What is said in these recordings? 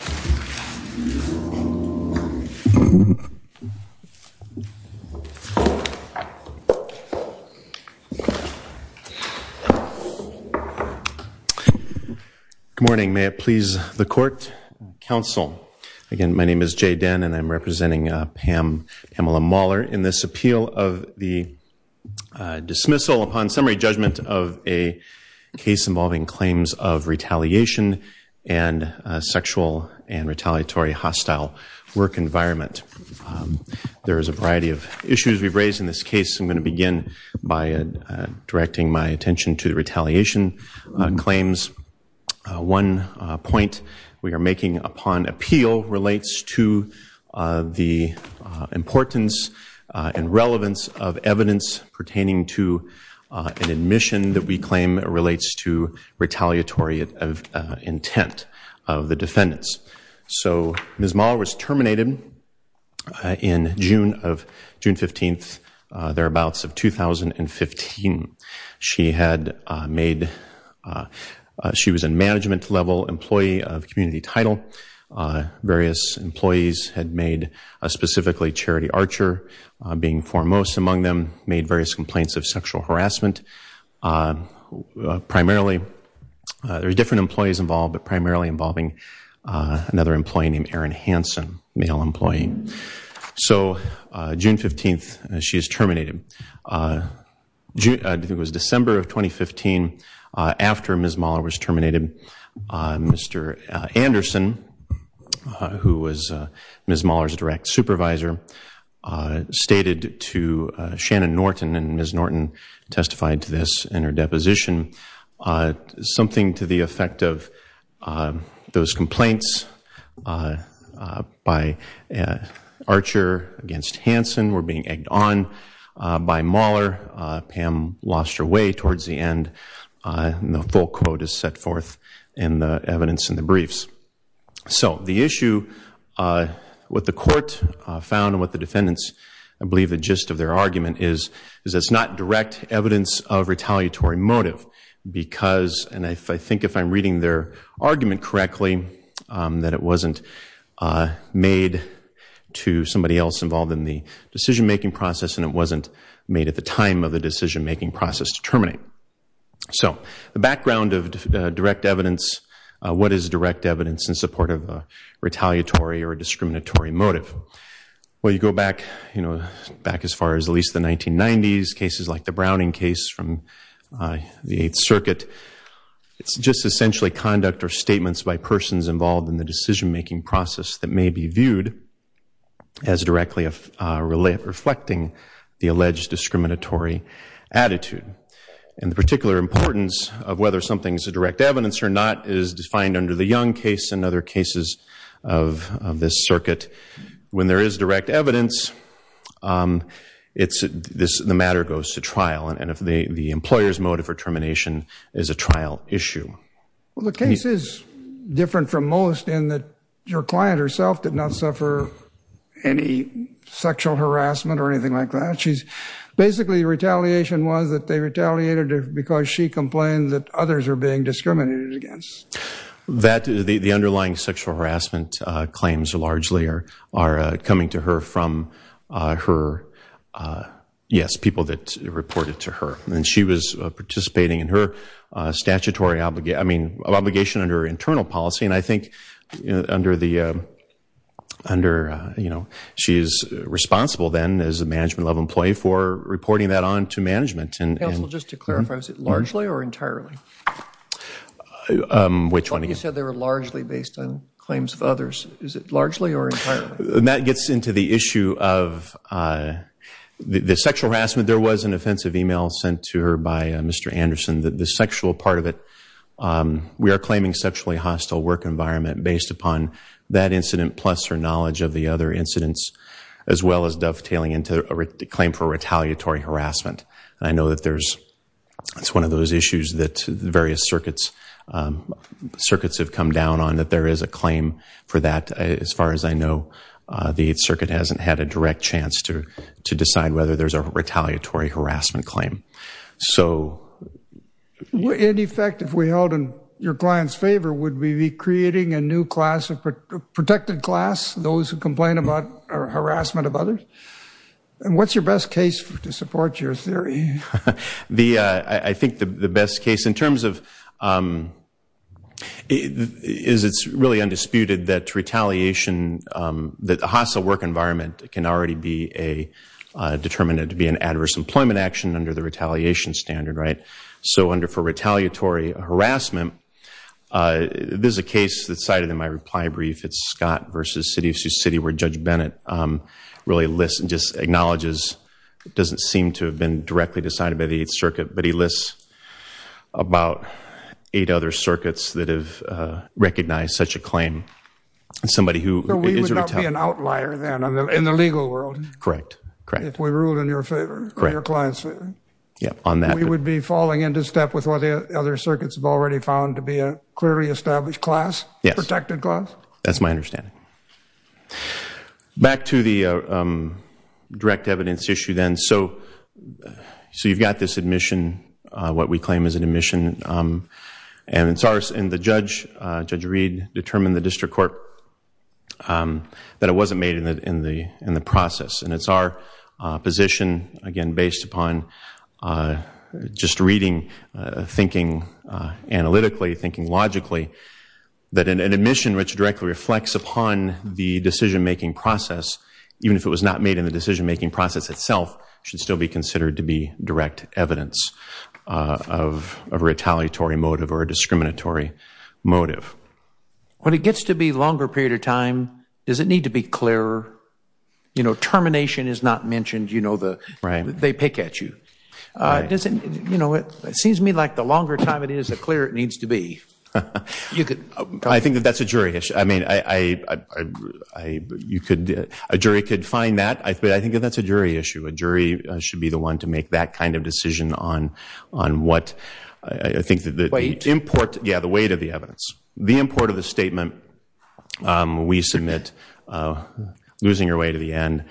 Good morning, may it please the court, counsel. Again, my name is Jay Denn and I'm representing Pam, Pamela Mahler in this appeal of the dismissal upon summary judgment of a case involving claims of retaliation and sexual and retaliatory hostile work environment. There is a variety of issues we've raised in this case. I'm going to begin by directing my attention to the retaliation claims. One point we are making upon appeal relates to the importance and retaliatory intent of the defendants. So Ms. Mahler was terminated in June 15, thereabouts of 2015. She was a management level employee of Community Title. Various employees had made, specifically Charity Archer being foremost among them, made various complaints of sexual There were different employees involved, but primarily involving another employee named Erin Hansen, a male employee. So June 15, she is terminated. It was December of 2015, after Ms. Mahler was terminated, Mr. Anderson, who was Ms. Mahler's direct supervisor, stated to Shannon Norton, and Ms. Norton testified to this in her deposition, something to the effect of those complaints by Archer against Hansen were being egged on by Mahler. Pam lost her way towards the end. The full quote is set forth in the evidence in the briefs. So the issue, what the court found and what the defendants believe the gist of their argument is, is that it's not direct evidence of retaliatory motive because, and I think if I'm reading their argument correctly, that it wasn't made to somebody else involved in the decision making process and it wasn't made at the time of the decision making process to terminate. So the background of direct evidence, what is direct evidence in support of a retaliatory or discriminatory motive? Well, you go back as far as at least the 1990s, cases like the Browning case from the Eighth Circuit. It's just essentially conduct or statements by persons involved in the decision making process that may be viewed as directly reflecting the alleged discriminatory attitude. And the particular importance of whether something is a direct evidence or not is defined under the Young case and other cases of this circuit. When there is direct evidence, the matter goes to trial and if the employer's motive for termination is a trial issue. Well, the case is different from most in that your client herself did not suffer any sexual harassment or anything like that. Basically, retaliation was that they retaliated because she complained that others were being discriminated against. That the underlying sexual harassment claims largely are coming to her from her, yes, people that reported to her. And she was participating in her statutory obligation, I mean obligation under her internal policy. And I think under the, under, you know, she is responsible then as a management level employee for reporting that on to management. Counsel, just to clarify, was it largely or entirely? Which one again? You said they were largely based on claims of others. Is it largely or entirely? That gets into the issue of the sexual harassment. There was an offensive email sent to her by Mr. Anderson. The sexual part of it, we are claiming sexually hostile work environment based upon that incident plus her knowledge of the other incidents as well as dovetailing into a claim for retaliatory harassment. I know that there's, it's one of those issues that various circuits, circuits have come down on that there is a claim for that. As far as I know, the circuit hasn't had a direct chance to decide whether there's a retaliatory harassment claim. So... In effect, if we held in your client's favor, would we be creating a new class, a protected class, those who complain about harassment of others? And what's your best case to support your theory? The, I think the best case in terms of, is it's really undisputed that retaliation, that would be an adverse employment action under the retaliation standard, right? So under for retaliatory harassment, there's a case that's cited in my reply brief. It's Scott versus City of Sioux City where Judge Bennett really lists and just acknowledges, it doesn't seem to have been directly decided by the 8th Circuit, but he lists about eight other circuits that have recognized such a claim. Somebody who is a retaliator. So we would not be an outlier then in the legal world? Correct. Correct. If we ruled in your favor, in your client's favor? Yeah, on that. We would be falling into step with what the other circuits have already found to be a clearly established class? Yes. Protected class? That's my understanding. Back to the direct evidence issue then. So, so you've got this admission, what we claim is an admission, and it's ours, and the judge, Judge Reed, determined in the district court that it wasn't made in the process. And it's our position, again, based upon just reading, thinking analytically, thinking logically, that an admission which directly reflects upon the decision-making process, even if it was not made in the decision-making process itself, should still be considered to be direct evidence of a retaliatory motive or a discriminatory motive. When it gets to be a longer period of time, does it need to be clearer? You know, termination is not mentioned, you know, they pick at you. You know, it seems to me like the longer time it is, the clearer it needs to be. I think that that's a jury issue. I mean, a jury could find that, but I think that that's a jury issue. A jury should be the one to make that kind of decision on what I think the weight, yeah, the weight of the evidence. The import of the statement, we submit losing your way to the end,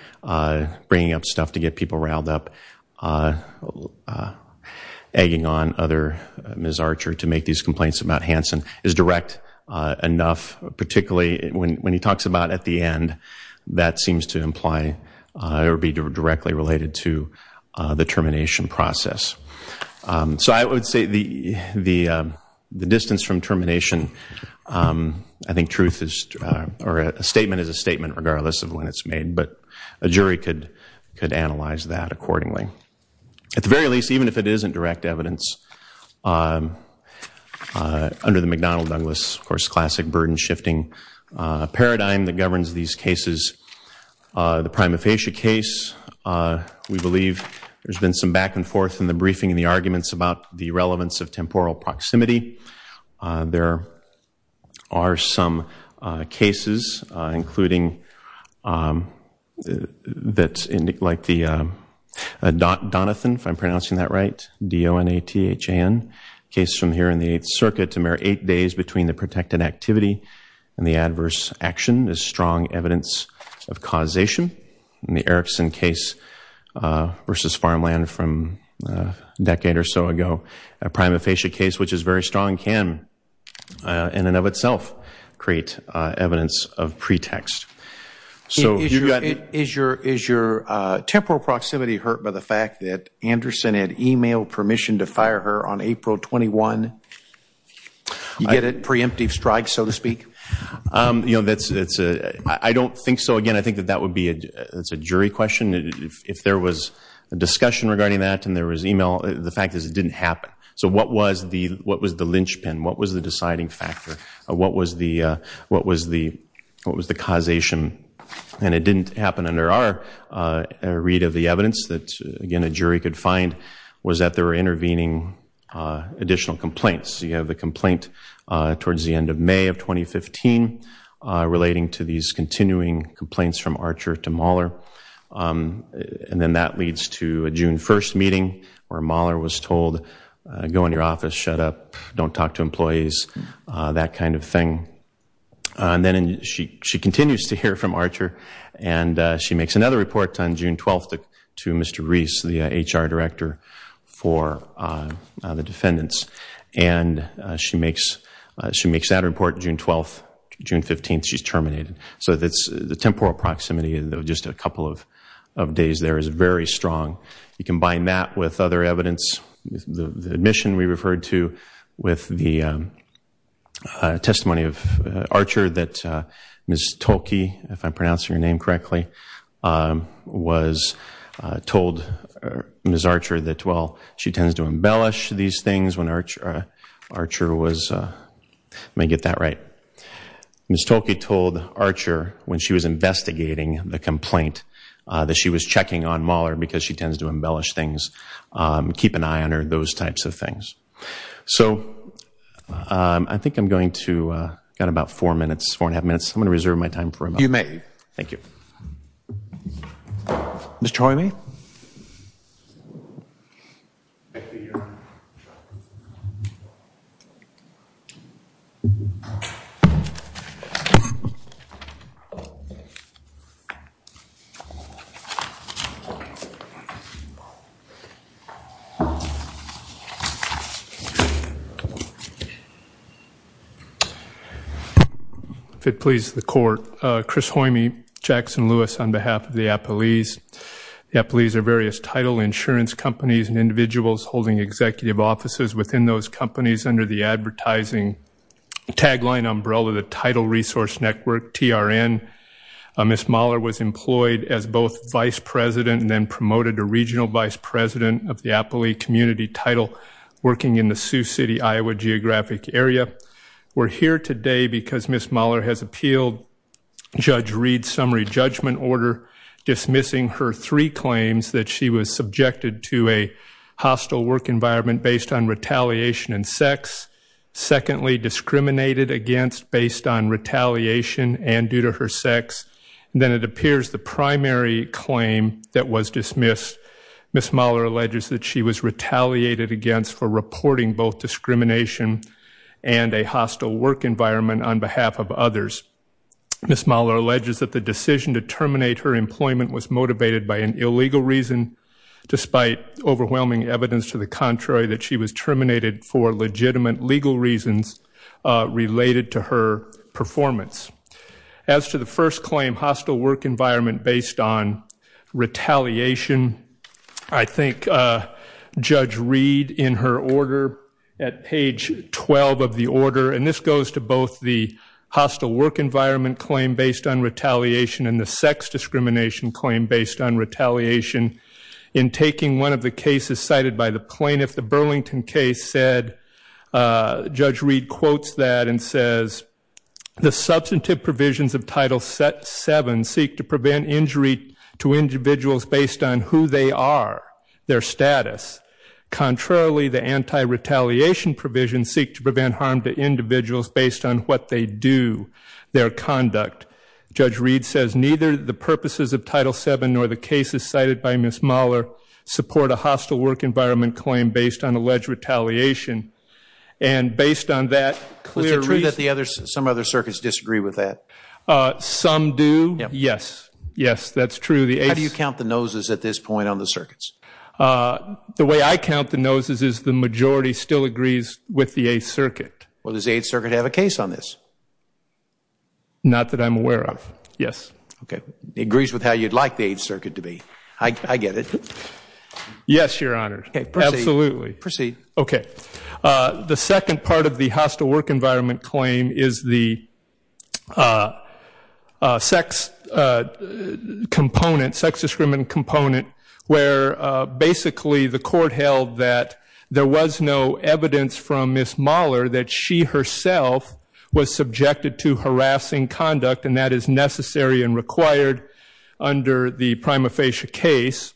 bringing up stuff to get people riled up, egging on other Ms. Archer to make these complaints about Hanson, is direct enough, particularly when he talks about at the end, that seems to imply or be directly related to the termination process. So I would say the distance from termination, I think truth is, or a statement is a statement regardless of when it's made, but a jury could analyze that accordingly. At the very least, even if it isn't direct evidence, under the McDonnell-Douglas, of course, classic burden shifting paradigm that governs these cases, the prima facie case, we believe there's been some back and forth in the briefing and the arguments about the relevance of temporal proximity. There are some cases, including that, like the Donathan, if I'm pronouncing that right, D-O-N-A-T-H-A-N, case from here in the Eighth Circuit, to mirror eight days between the protected activity and the adverse action is strong evidence of causation. In the Erickson case versus Farmland from a decade or so ago, a prima facie case, which is very strong, can, in and of itself, create evidence of pretext. Is your temporal proximity hurt by the fact that Anderson had email permission to fire her on April 21? You get a preemptive strike, so to speak? You know, I don't think so. Again, I think that that would be a jury question. If there was a discussion regarding that and there was email, the fact is it didn't happen. So what was the linchpin? What was the deciding factor? What was the causation? And it didn't happen under our read of the evidence that, again, a jury could find was that there were a number of things that could have been done. And then she continues to hear from Archer, and she makes another report on June 12th to Mr. Reese, the HR director for the defendants. And she makes that report June 12th. June 15th, she's terminated. So the temporal proximity of just a couple of days there is very strong. You combine that with other evidence, the admission we referred to, with the testimony of Archer that Ms. Tolke, if I'm pronouncing Archer was, let me get that right. Ms. Tolke told Archer when she was investigating the complaint that she was checking on Mahler because she tends to embellish things, keep an eye on her, those types of things. So I think I'm going to, got about four minutes, four and a half minutes. I'm going to reserve my time for a moment. You may. Thank you. Ms. Choime? If it pleases the court, Chris Choime, Jackson Lewis, on behalf of the Appalachian Applelease are various title insurance companies and individuals holding executive offices within those companies under the advertising tagline umbrella the title resource Network TRN Miss Mahler was employed as both vice president and then promoted to regional vice president of the Apple e community title Working in the Sioux City, Iowa geographic area. We're here today because Miss Mahler has appealed Judge Reed's summary judgment order dismissing her three claims that she was subjected to a hostile work environment based on retaliation and sex Secondly discriminated against based on retaliation and due to her sex Then it appears the primary claim that was dismissed Miss Mahler alleges that she was retaliated against for reporting both discrimination and a hostile work environment on behalf of others Miss Mahler alleges that the decision to terminate her employment was motivated by an illegal reason Despite overwhelming evidence to the contrary that she was terminated for legitimate legal reasons related to her performance as to the first claim hostile work environment based on retaliation I think Judge Reed in her order at page 12 of the order and this goes to both the employment claim based on retaliation and the sex discrimination claim based on retaliation in Taking one of the cases cited by the plaintiff the Burlington case said Judge Reed quotes that and says The substantive provisions of title set seven seek to prevent injury to individuals based on who they are their status Contrarily the anti-retaliation provision seek to prevent harm to individuals based on what they do Their conduct judge Reed says neither the purposes of title seven nor the cases cited by Miss Mahler support a hostile work environment claim based on alleged retaliation and Based on that clear that the others some other circuits disagree with that Some do yes. Yes, that's true. The how do you count the noses at this point on the circuits? The way I count the noses is the majority still agrees with the Eighth Circuit. Well, does the Eighth Circuit have a case on this? Not that I'm aware of yes, okay agrees with how you'd like the Eighth Circuit to be I get it Yes, your honor. Absolutely proceed. Okay, the second part of the hostile work environment claim is the Sex Component sex discriminant component where Basically the court held that there was no evidence from Miss Mahler that she herself Was subjected to harassing conduct and that is necessary and required under the prima facie case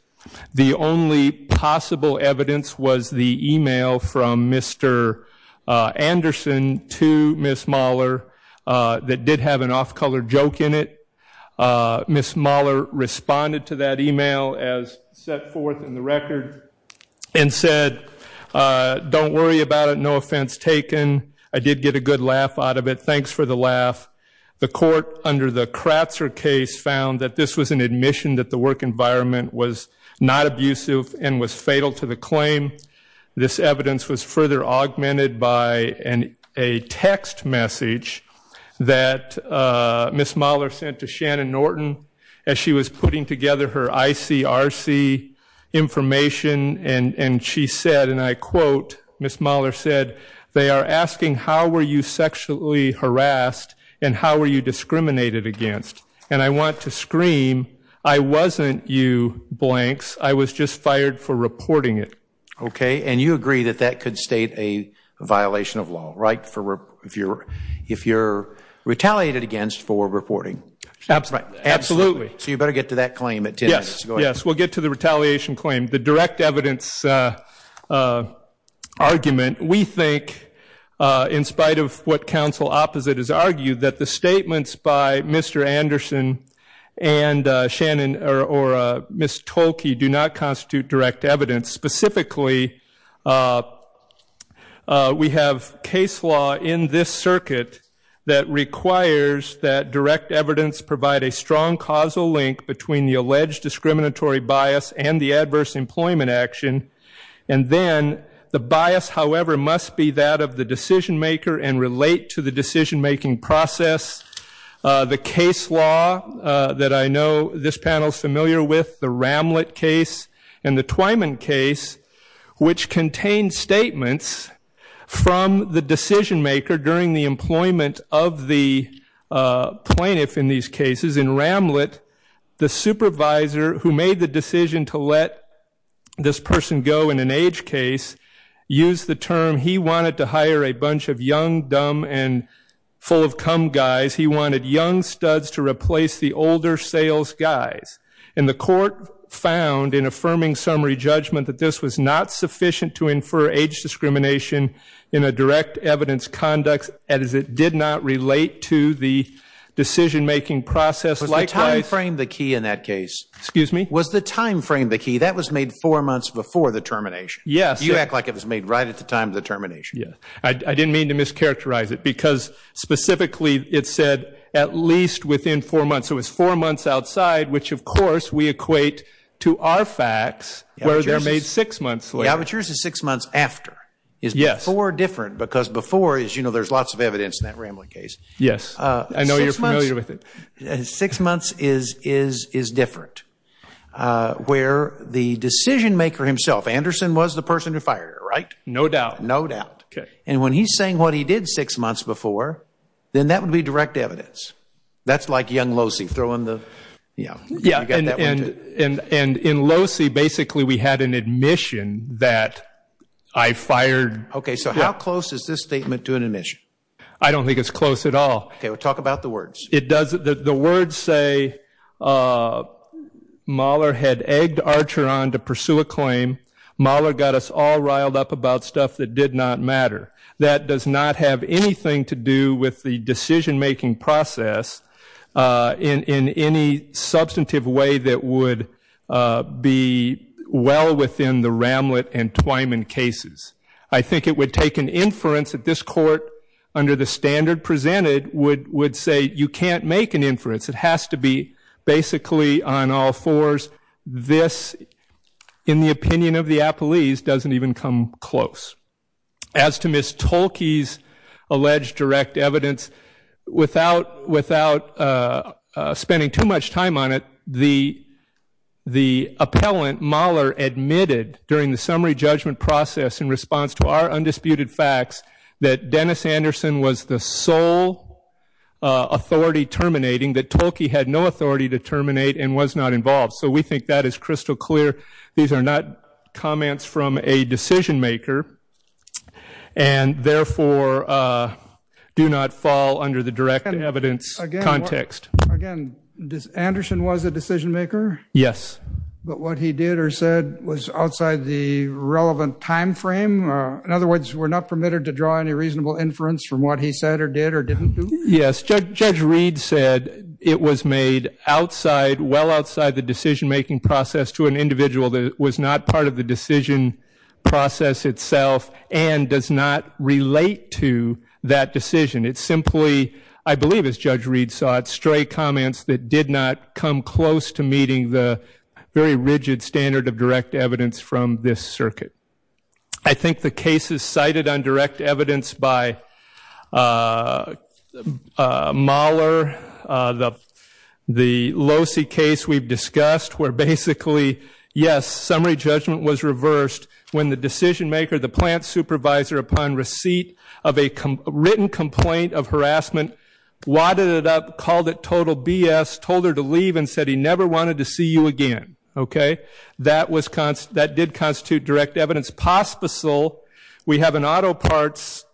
The only possible evidence was the email from mr. Anderson to Miss Mahler That did have an off-color joke in it Miss Mahler responded to that email as set forth in the record and said Don't worry about it. No offense taken. I did get a good laugh out of it. Thanks for the laugh the court under the Kratzer case found that this was an admission that the work environment was Not abusive and was fatal to the claim this evidence was further augmented by an a text message that Miss Mahler sent to Shannon Norton as she was putting together her ICRC Information and and she said and I quote Miss Mahler said they are asking how were you sexually harassed? And how were you discriminated against and I want to scream I wasn't you blanks I was just fired for reporting it. Okay, and you agree that that could state a Viewer if you're retaliated against for reporting Absolutely, so you better get to that claim it. Yes. Yes, we'll get to the retaliation claim the direct evidence Argument we think In spite of what counsel opposite is argued that the statements by. Mr. Anderson and Shannon or Miss Tolki do not constitute direct evidence specifically We Have case law in this circuit that requires that direct evidence provide a strong causal link between the alleged discriminatory bias and the adverse employment action and Then the bias however must be that of the decision maker and relate to the decision-making process the case law That I know this panel is familiar with the ramlet case and the Twyman case which contained statements from the decision maker during the employment of the Plaintiff in these cases in ramlet the supervisor who made the decision to let This person go in an age case Use the term he wanted to hire a bunch of young dumb and full-of-come guys He wanted young studs to replace the older sales guys in the court Found in affirming summary judgment that this was not sufficient to infer age discrimination in a direct evidence conduct and as it did not relate to the Decision-making process like I frame the key in that case. Excuse me was the time frame the key that was made four months before the termination Yes, you act like it was made right at the time of the termination. Yeah, I didn't mean to mischaracterize it because Specifically it said at least within four months. It was four months outside, which of course we equate To our facts where they're made six months later But yours is six months after is yes or different because before is you know, there's lots of evidence in that ramlet case Yes, I know you're familiar with it six months is is is different Where the decision maker himself Anderson was the person who fired right? No doubt No doubt. Okay, and when he's saying what he did six months before then that would be direct evidence That's like young Losey throw in the yeah, yeah And and in Losey, basically we had an admission that I fired Okay, so how close is this statement to an admission? I don't think it's close at all. Okay, we'll talk about the words It does the words say Mahler had egged Archer on to pursue a claim Mahler got us all riled up about stuff that did not matter that does not have anything to do with the decision-making process in in any substantive way that would be Well within the ramlet and Twyman cases I think it would take an inference at this court under the standard presented would would say you can't make an inference It has to be basically on all fours This in the opinion of the Apple ease doesn't even come close as to miss Tolkien's Without spending too much time on it the the appellant Mahler Admitted during the summary judgment process in response to our undisputed facts that Dennis Anderson was the sole Authority terminating that Tolkien had no authority to terminate and was not involved. So we think that is crystal clear these are not comments from a decision maker and Therefore Do not fall under the direct evidence context Anderson was a decision maker. Yes, but what he did or said was outside the Relevant time frame. In other words, we're not permitted to draw any reasonable inference from what he said or did or didn't do Yes, judge read said it was made outside Well outside the decision-making process to an individual that was not part of the decision Process itself and does not relate to that decision it's simply I believe as judge Reed saw it stray comments that did not come close to meeting the Very rigid standard of direct evidence from this circuit. I think the case is cited on direct evidence by Mahler the Losi case we've discussed where basically yes, summary judgment was reversed when the decision-maker the plant supervisor upon receipt of a written complaint of harassment Wadded it up called it total BS told her to leave and said he never wanted to see you again Okay, that was constant that did constitute direct evidence Pospisil we have an auto parts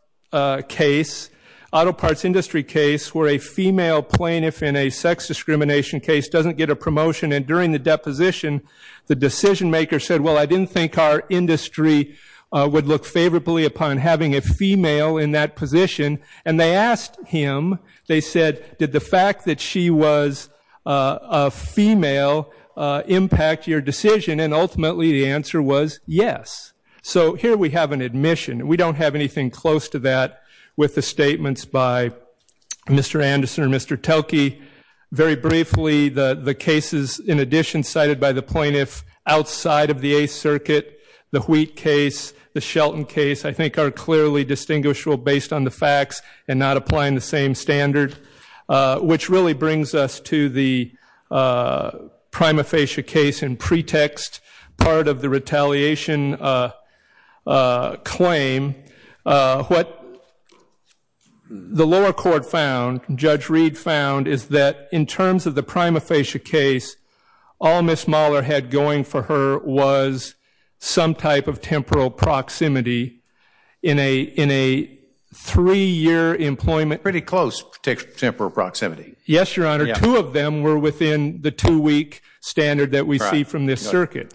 Case Auto parts industry case where a female plaintiff in a sex discrimination case doesn't get a promotion and during the deposition The decision-maker said well, I didn't think our industry Would look favorably upon having a female in that position and they asked him they said did the fact that she was female Impact your decision and ultimately the answer was yes. So here we have an admission We don't have anything close to that with the statements by Mr. Anderson, or mr Telke very briefly the the cases in addition cited by the plaintiff outside of the a circuit the wheat case The Shelton case I think are clearly distinguishable based on the facts and not applying the same standard which really brings us to the Prima facie case and pretext part of the retaliation Claim What? The lower court found judge Reed found is that in terms of the prima facie case all miss Mahler had going for her was some type of temporal proximity in a in a Three-year employment pretty close takes temporal proximity. Yes, your honor Two of them were within the two-week standard that we see from this circuit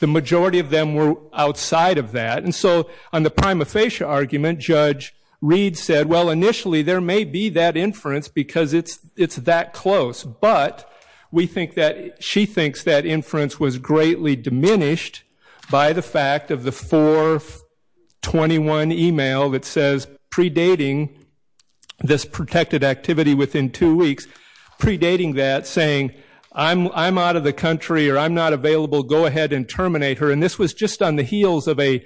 The majority of them were outside of that and so on the prima facie argument judge Reed said well initially there may be that inference because it's it's that close but we think that she thinks that inference was greatly diminished by the fact of the 421 email that says predating This protected activity within two weeks Predating that saying I'm out of the country or I'm not available. Go ahead and terminate her and this was just on the heels of a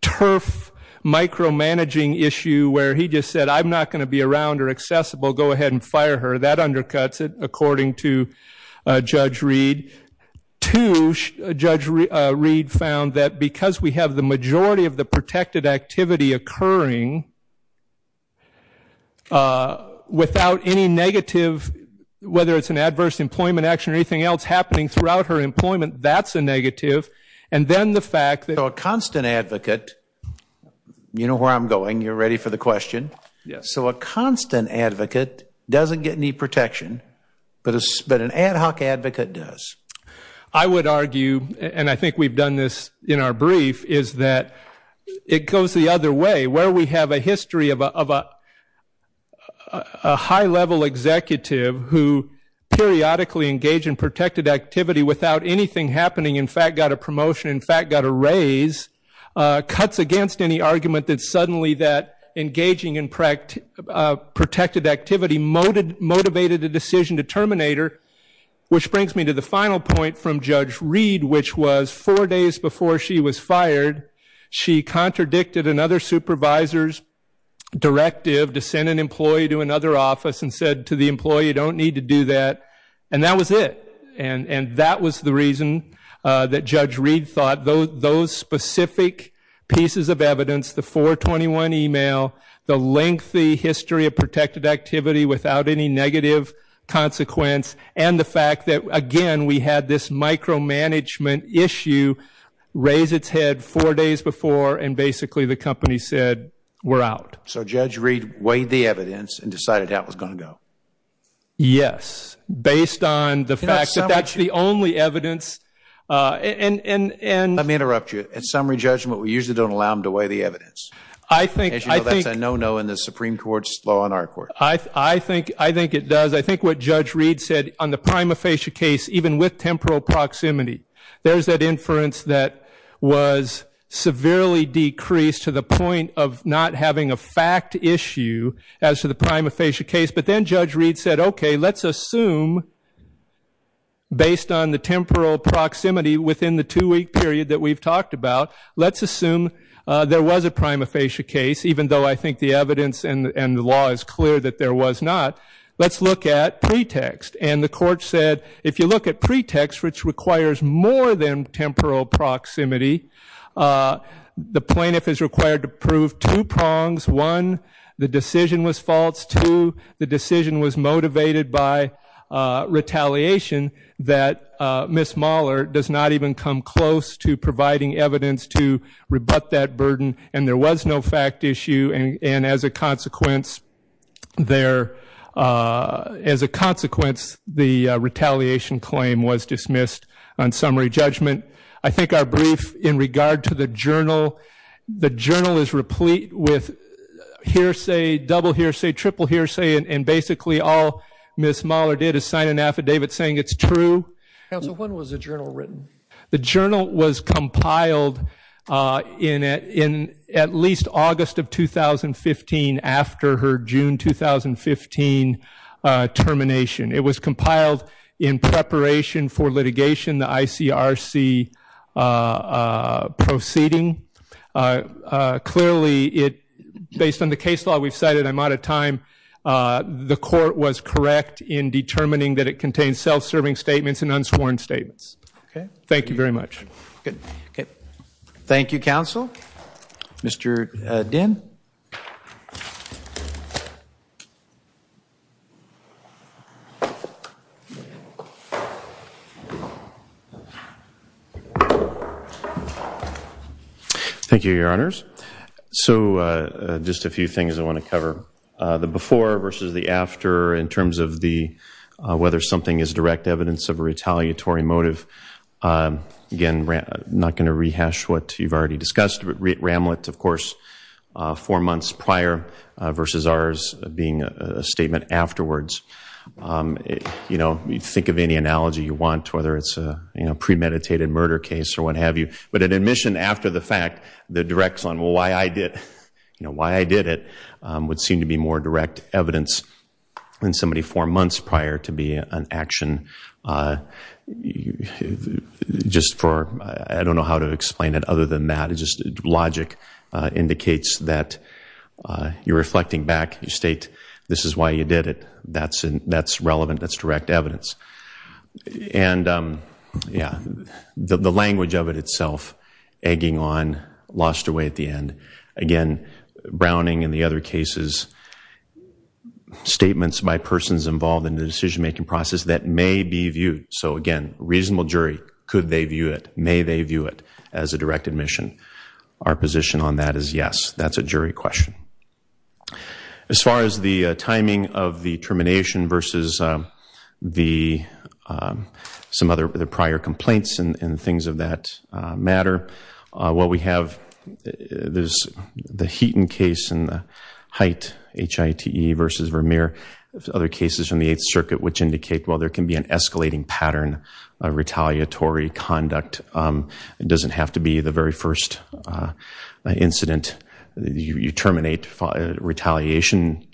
turf Micromanaging issue where he just said I'm not going to be around or accessible. Go ahead and fire her that undercuts it according to judge Reed to Judge Reed found that because we have the majority of the protected activity occurring Without any negative Whether it's an adverse employment action or anything else happening throughout her employment That's a negative and then the fact that a constant advocate You know where I'm going you're ready for the question. Yes, so a constant advocate doesn't get any protection But it's but an ad hoc advocate does I would argue and I think we've done this in our brief is that It goes the other way where we have a history of a High level executive who? Periodically engage in protected activity without anything happening. In fact got a promotion. In fact got a raise cuts against any argument that suddenly that engaging in protected activity Motivated a decision to terminate her which brings me to the final point from judge read which was four days before she was fired She contradicted another supervisor's Directive to send an employee to another office and said to the employee You don't need to do that and that was it and and that was the reason that judge Reed thought those those specific Pieces of evidence the 421 email the lengthy history of protected activity without any negative Consequence and the fact that again we had this micromanagement issue Raise its head four days before and basically the company said we're out So judge read weighed the evidence and decided how it was going to go Yes, based on the fact that that's the only evidence And and let me interrupt you at summary judgment. We usually don't allow them to weigh the evidence I think I think no no in the Supreme Court's law on our court I I think I think it does I think what judge Reed said on the prima facie case even with temporal proximity There's that inference that was Severely decreased to the point of not having a fact issue as to the prima facie case, but then judge Reed said, okay Let's assume Based on the temporal proximity within the two-week period that we've talked about let's assume There was a prima facie case even though I think the evidence and the law is clear that there was not Let's look at pretext and the court said if you look at pretext, which requires more than temporal proximity The plaintiff is required to prove two prongs one. The decision was false to the decision was motivated by Retaliation that miss Mahler does not even come close to providing evidence to Rebut that burden and there was no fact issue and as a consequence There as a consequence the Retaliation claim was dismissed on summary judgment. I think our brief in regard to the journal. The journal is replete with Hearsay double hearsay triple hearsay and basically all miss Mahler did is sign an affidavit saying it's true The journal was compiled in it in at least August of 2015 after her June 2015 Termination it was compiled in preparation for litigation the ICRC Proceeding Clearly it based on the case law we've cited. I'm out of time The court was correct in determining that it contains self-serving statements and unsworn statements. Okay. Thank you very much. Good. Okay Thank You counsel Mr. Den Thank you your honors so just a few things I want to cover the before versus the after in terms of the Whether something is direct evidence of a retaliatory motive Again we're not going to rehash what you've already discussed with Ramlet, of course four months prior Versus ours being a statement afterwards You know you think of any analogy you want whether it's a you know Premeditated murder case or what have you but an admission after the fact the directs on why I did you know why I did it Would seem to be more direct evidence When somebody four months prior to be an action You Just for I don't know how to explain it other than that it just logic indicates that You're reflecting back. You state. This is why you did it. That's and that's relevant. That's direct evidence and Yeah, the language of it itself egging on lost away at the end again Browning and the other cases Statements by persons involved in the decision-making process that may be viewed so again reasonable jury could they view it? May they view it as a direct admission our position on that is yes. That's a jury question as far as the timing of the termination versus the Some other prior complaints and things of that matter what we have There's the Heaton case in the height Hite versus Vermeer other cases from the 8th Circuit which indicate while there can be an escalating pattern a retaliatory conduct It doesn't have to be the very first incident you terminate retaliation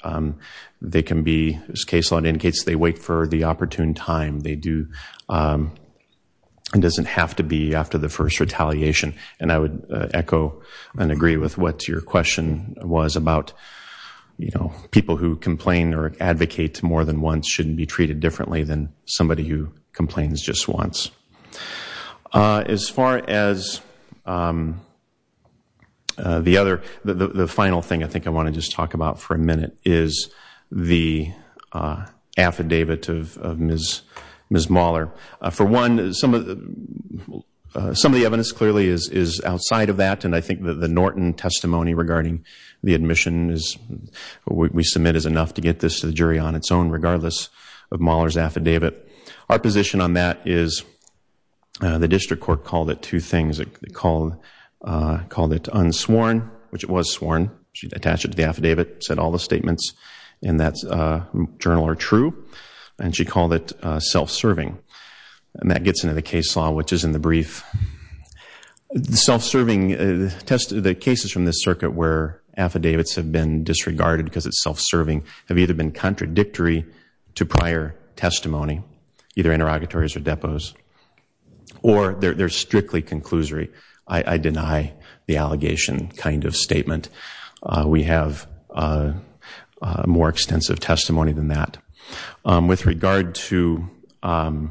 They can be as case law it indicates. They wait for the opportune time they do It doesn't have to be after the first retaliation and I would echo and agree with what your question was about You know people who complain or advocate to more than once shouldn't be treated differently than somebody who complains just once as far as The other the final thing I think I want to just talk about for a minute is the Affidavit of Miss Miss Mahler for one is some of the some of the evidence clearly is is outside of that and I think that the Norton testimony regarding the admission is What we submit is enough to get this to the jury on its own regardless of Mahler's affidavit our position on that is The district court called it two things it called Called it unsworn which it was sworn. She'd attached it to the affidavit said all the statements and that's Journal are true and she called it self-serving and that gets into the case law, which is in the brief the self-serving Tested the cases from this circuit where affidavits have been disregarded because it's self-serving have either been contradictory to prior testimony either interrogatories or depots Or they're strictly conclusory. I deny the allegation kind of statement we have More extensive testimony than that with regard to In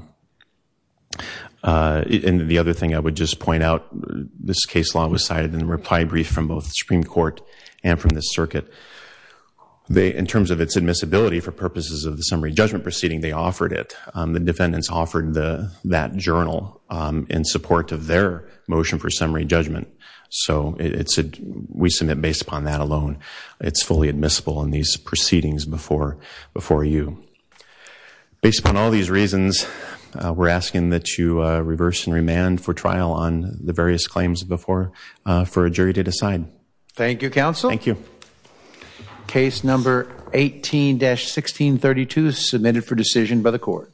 the other thing I would just point out this case law was cited in reply brief from both Supreme Court and from the circuit They in terms of its admissibility for purposes of the summary judgment proceeding They offered it the defendants offered the that journal in support of their motion for summary judgment So it's a we submit based upon that alone, it's fully admissible in these proceedings before before you Based upon all these reasons We're asking that you reverse and remand for trial on the various claims before for a jury to decide Thank you counsel. Thank you case number 18 1632 submitted for decision by the court